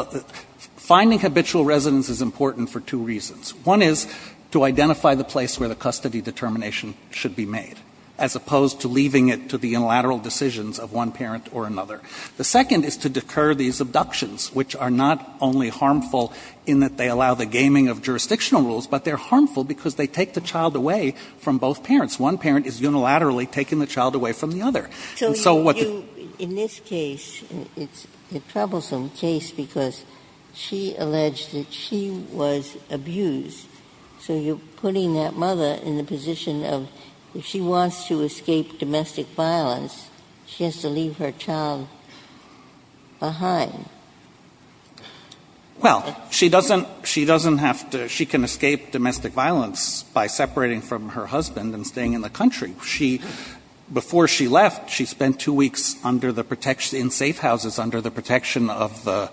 finding habitual residence is important for two reasons. One is to identify the place where the custody determination should be made, as opposed to leaving it to the unilateral decisions of one parent or another. The second is to decur these abductions, which are not only harmful in that they allow the gaming of jurisdictional rules, but they're harmful because they take the child away from both parents. One parent is unilaterally taking the child away from the other. And so what the ---- So you're putting that mother in the position of, if she wants to escape domestic violence, she has to leave her child behind. Well, she doesn't have to. She can escape domestic violence by separating from her husband and staying in the country. She, before she left, she spent two weeks under the protection, in safe houses, under the protection of the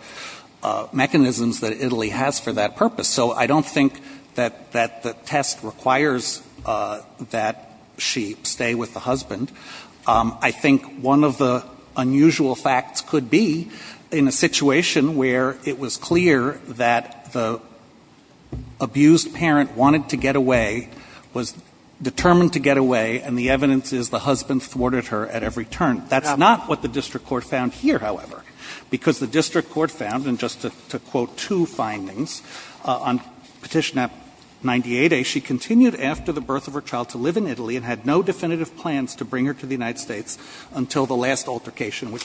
mechanisms that Italy has for that purpose. So I don't think that the test requires that she stay with the husband. I think one of the unusual facts could be, in a situation where it was clear that the abused parent wanted to get away, was determined to get away, and the evidence is the husband thwarted her at every turn. That's not what the district court found here, however, because the district court found, and just to quote two findings, on Petition App 98A, she continued after the birth of her child to live in Italy and had no definitive plans to bring her to the United States until the last altercation which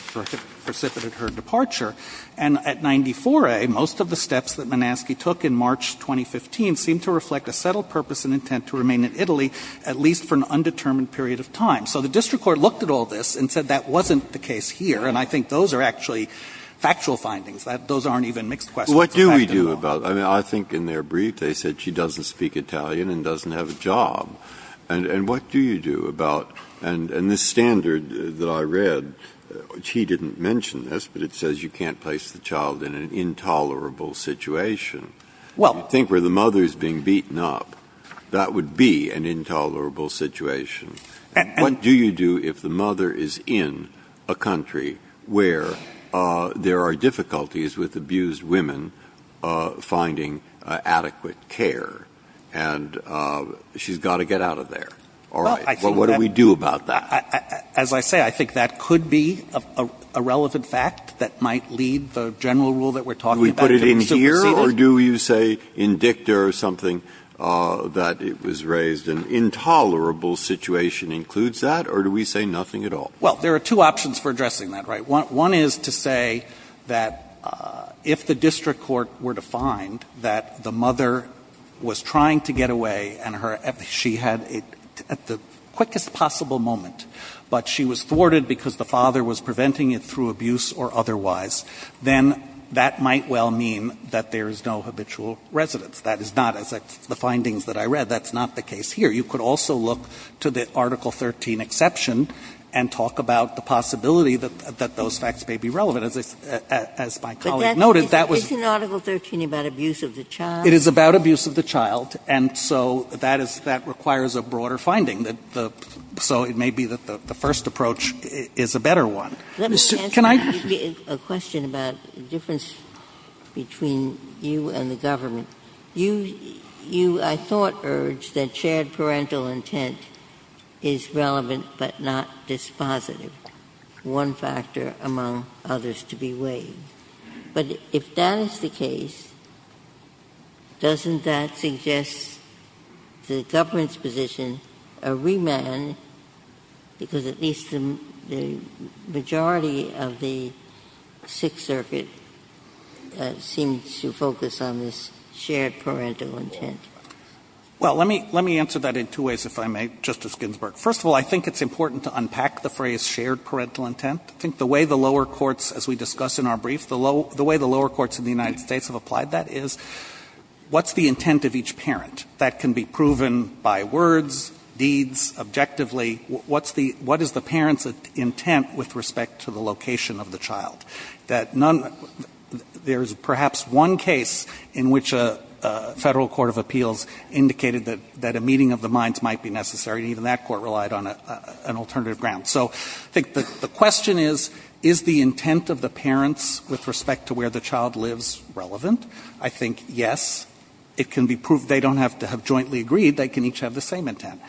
precipitated her departure. And at 94A, most of the steps that Manaski took in March 2015 seemed to reflect a settled purpose and intent to remain in Italy at least for an undetermined period of time. So the district court looked at all this and said that wasn't the case here, and I think those are actually factual findings. Those aren't even mixed questions. Breyer. What do we do about it? I mean, I think in their brief they said she doesn't speak Italian and doesn't have a job. And what do you do about, and this standard that I read, which he didn't mention this, but it says you can't place the child in an intolerable situation. I think where the mother is being beaten up, that would be an intolerable situation. What do you do if the mother is in a country where there are difficulties with abused women finding adequate care and she's got to get out of there? All right. Well, what do we do about that? As I say, I think that could be a relevant fact that might lead the general rule that we're talking about to be superseded. Do we put it in here or do you say in dicta or something that it was raised an intolerable situation includes that or do we say nothing at all? Well, there are two options for addressing that, right? One is to say that if the district court were to find that the mother was trying to get away and she had it at the quickest possible moment, but she was thwarted because the father was preventing it through abuse or otherwise, then that might well mean that there is no habitual residence. That is not, as the findings that I read, that's not the case here. You could also look to the Article 13 exception and talk about the possibility that those facts may be relevant. As my colleague noted, that was the case. But isn't Article 13 about abuse of the child? It is about abuse of the child, and so that requires a broader finding. So it may be that the first approach is a better one. Let me answer a question about the difference between you and the government. You, I thought, urged that shared parental intent is relevant but not dispositive, one factor among others to be weighed. But if that is the case, doesn't that suggest the government's position a remand because at least the majority of the Sixth Circuit seems to focus on this shared parental intent? Well, let me answer that in two ways, if I may, Justice Ginsburg. First of all, I think it's important to unpack the phrase shared parental intent. I think the way the lower courts, as we discussed in our brief, the way the lower courts in the United States have applied that is what's the intent of each parent? That can be proven by words, deeds, objectively. What is the parent's intent with respect to the location of the child? There is perhaps one case in which a Federal Court of Appeals indicated that a meeting of the minds might be necessary, and even that court relied on an alternative ground. So I think the question is, is the intent of the parents with respect to where the child lives relevant? I think yes. It can be proved. They don't have to have jointly agreed. They can each have the same intent.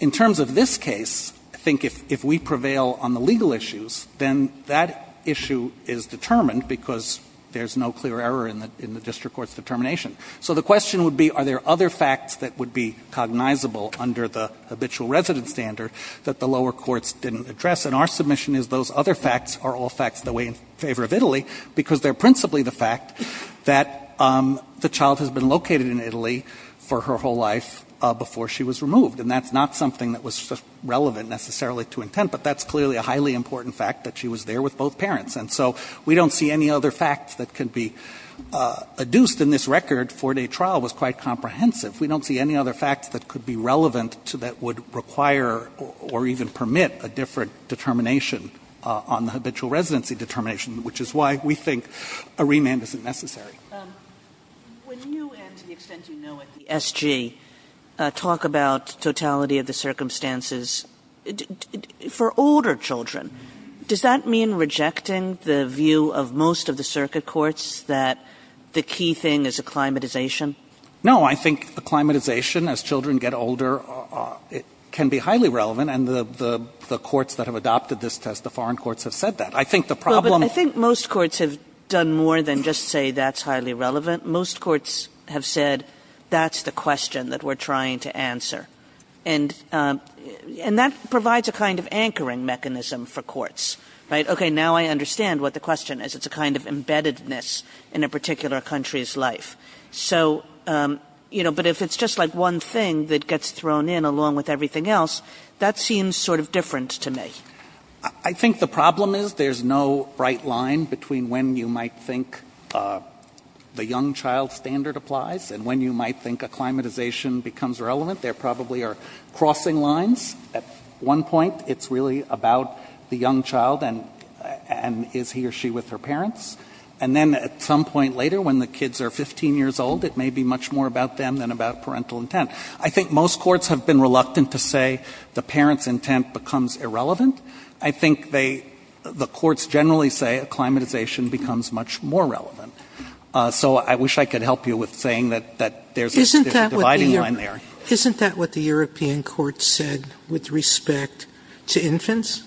In terms of this case, I think if we prevail on the legal issues, then that issue is determined because there's no clear error in the district court's determination. So the question would be, are there other facts that would be cognizable under the habitual resident standard that the lower courts didn't address? And our submission is those other facts are all facts that weigh in favor of Italy because they're principally the fact that the child has been located in Italy for her whole life before she was removed. And that's not something that was relevant necessarily to intent, but that's clearly a highly important fact that she was there with both parents. And so we don't see any other facts that could be adduced in this record. Four-day trial was quite comprehensive. We don't see any other facts that could be relevant that would require or even permit a different determination on the habitual residency determination, which is why we think a remand isn't necessary. Kagan When you, and to the extent you know it, the SG, talk about totality of the circumstances for older children, does that mean rejecting the view of most of the circuit courts that the key thing is acclimatization? No. I think acclimatization as children get older can be highly relevant. And the courts that have adopted this test, the foreign courts, have said that. I think the problem I think most courts have done more than just say that's highly relevant. Most courts have said that's the question that we're trying to answer. And that provides a kind of anchoring mechanism for courts, right? Okay, now I understand what the question is. It's a kind of embeddedness in a particular country's life. So, you know, but if it's just like one thing that gets thrown in along with everything else, that seems sort of different to me. I think the problem is there's no bright line between when you might think the young child standard applies and when you might think acclimatization becomes relevant. There probably are crossing lines. At one point, it's really about the young child and is he or she with her parents. And then at some point later, when the kids are 15 years old, it may be much more about them than about parental intent. I think most courts have been reluctant to say the parent's intent becomes irrelevant. I think they, the courts generally say acclimatization becomes much more relevant. So I wish I could help you with saying that there's a dividing line there. Isn't that what the European court said with respect to infants?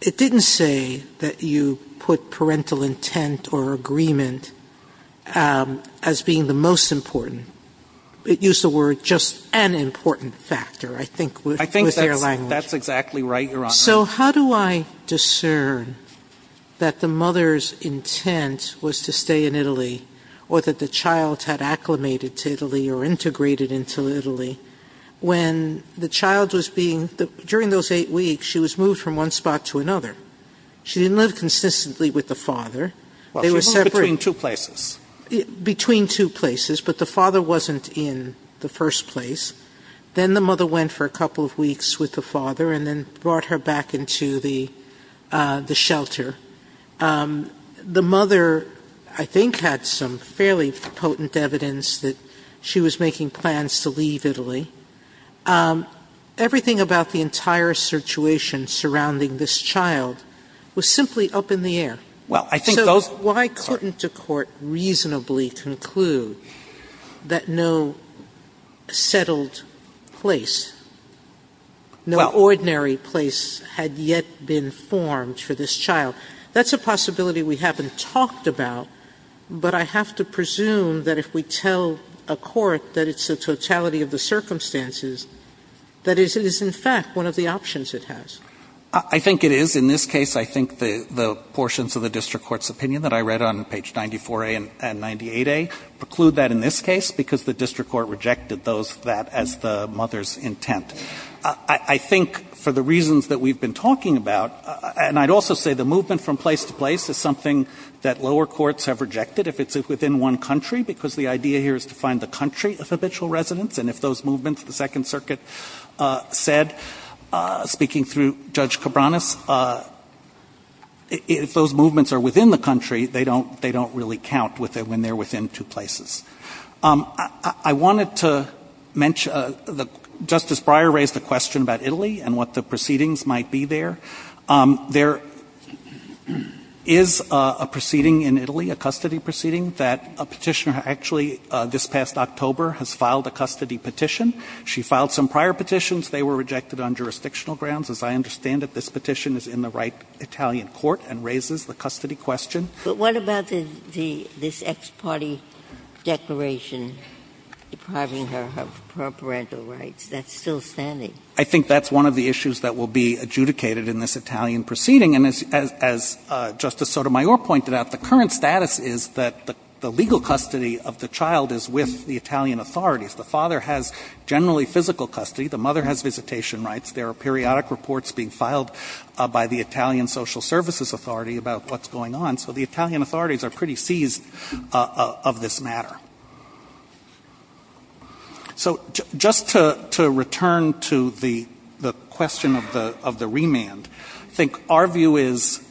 It didn't say that you put parental intent or agreement as being the most important. It used the word just an important factor, I think, with your language. I think that's exactly right, Your Honor. So how do I discern that the mother's intent was to stay in Italy or that the child had acclimated to Italy or integrated into Italy when the child was being, during those eight weeks, she was moved from one spot to another. She didn't live consistently with the father. They were separate. Well, she moved between two places. Between two places, but the father wasn't in the first place. Then the mother went for a couple of weeks with the father and then brought her back into the shelter. The mother, I think, had some fairly potent evidence that she was making plans to leave Italy. Everything about the entire situation surrounding this child was simply up in the air. Well, I think those So why couldn't a court reasonably conclude that no settled place, no ordinary place had yet been formed for this child? That's a possibility we haven't talked about, but I have to presume that if we tell a court that it's the totality of the circumstances, that it is in fact one of the options it has. I think it is. In this case, I think the portions of the district court's opinion that I read on page 94A and 98A preclude that in this case because the district court rejected that as the mother's intent. I think for the reasons that we've been talking about, and I'd also say the movement from place to place is something that lower courts have rejected if it's within one country, because the idea here is to find the country of habitual residents. And if those movements, the Second Circuit said, speaking through Judge Cabranes, if those movements are within the country, they don't really count when they're within two places. I wanted to mention Justice Breyer raised a question about Italy and what the proceedings might be there. There is a proceeding in Italy, a custody proceeding, that a petitioner actually this past October has filed a custody petition. She filed some prior petitions. They were rejected on jurisdictional grounds. As I understand it, this petition is in the right Italian court and raises the custody question. Ginsburg. But what about this ex parte declaration depriving her of her parental rights? That's still standing. I think that's one of the issues that will be adjudicated in this Italian proceeding. And as Justice Sotomayor pointed out, the current status is that the legal custody of the child is with the Italian authorities. The father has generally physical custody. The mother has visitation rights. There are periodic reports being filed by the Italian social services authority about what's going on. So the Italian authorities are pretty seized of this matter. So just to return to the question of the remand, I think our view is,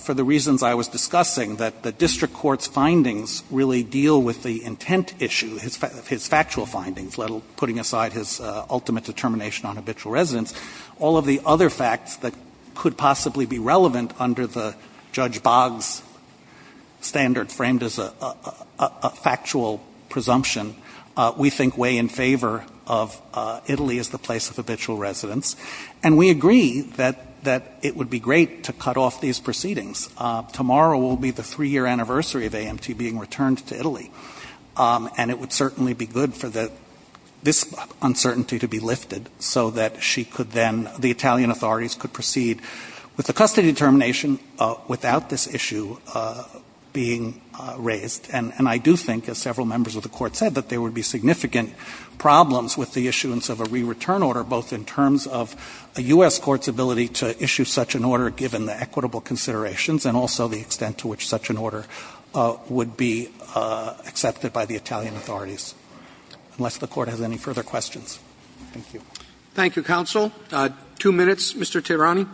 for the reasons I was discussing, that the district court's findings really deal with the intent issue, his factual findings, putting aside his ultimate determination on habitual residence. All of the other facts that could possibly be relevant under the Judge Boggs standard framed as a factual presumption, we think weigh in favor of Italy as the place of habitual residence. And we agree that it would be great to cut off these proceedings. Tomorrow will be the three-year anniversary of AMT being returned to Italy. And it would certainly be good for this uncertainty to be lifted so that she could then, the Italian authorities could proceed with the custody determination without this issue being raised. And I do think, as several members of the Court said, that there would be significant problems with the issuance of a re-return order, both in terms of a U.S. court's ability to issue such an order given the equitable considerations and also the extent to which such an order would be accepted by the Italian authorities. Unless the Court has any further questions. Thank you. Roberts. Thank you, counsel. Two minutes. Mr. Tirani.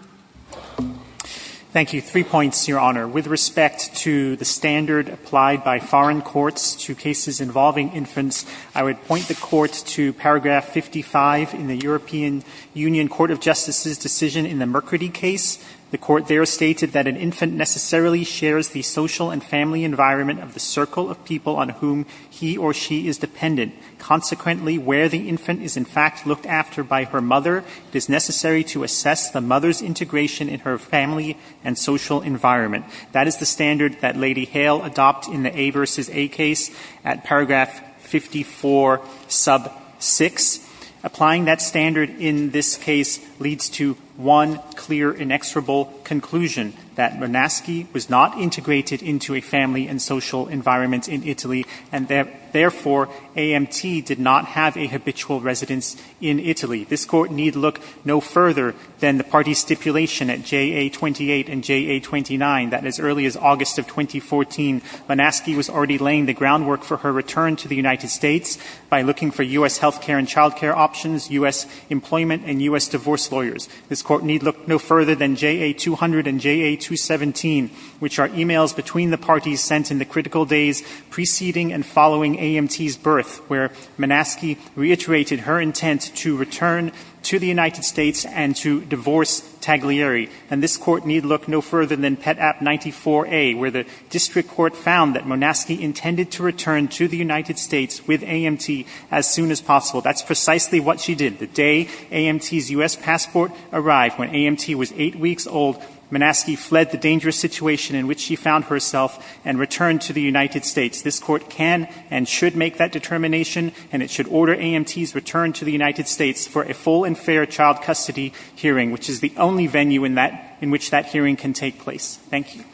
Thank you. Three points, Your Honor. With respect to the standard applied by foreign courts to cases involving infants, I would point the Court to paragraph 55 in the European Union Court of Justice's decision in the Mercredi case. The Court there stated that an infant necessarily shares the social and family environment of the circle of people on whom he or she is dependent. Consequently, where the infant is in fact looked after by her mother, it is necessary to assess the mother's integration in her family and social environment. That is the standard that Lady Hale adopted in the A v. A case at paragraph 54, sub 6. Applying that standard in this case leads to one clear, inexorable conclusion that Monaschi was not integrated into a family and social environment in Italy, and therefore AMT did not have a habitual residence in Italy. This Court need look no further than the party stipulation at JA28 and JA29 that as early as August of 2014, Monaschi was already laying the groundwork for her return to the United States by looking for U.S. health care and child care options, U.S. employment and U.S. divorce lawyers. This Court need look no further than JA200 and JA217, which are e-mails between the parties sent in the critical days preceding and following AMT's birth, where Monaschi reiterated her intent to return to the United States and to divorce Taglieri. And this Court need look no further than Pet App 94A, where the district court found that Monaschi intended to return to the United States with AMT as soon as possible. That's precisely what she did. The day AMT's U.S. passport arrived, when AMT was eight weeks old, Monaschi fled the dangerous situation in which she found herself and returned to the United States. This Court can and should make that determination, and it should order AMT's return to the United States for a full and fair child custody hearing, which is the only venue in which that hearing can take place. Thank you.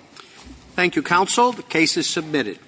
Thank you, counsel. The case is submitted.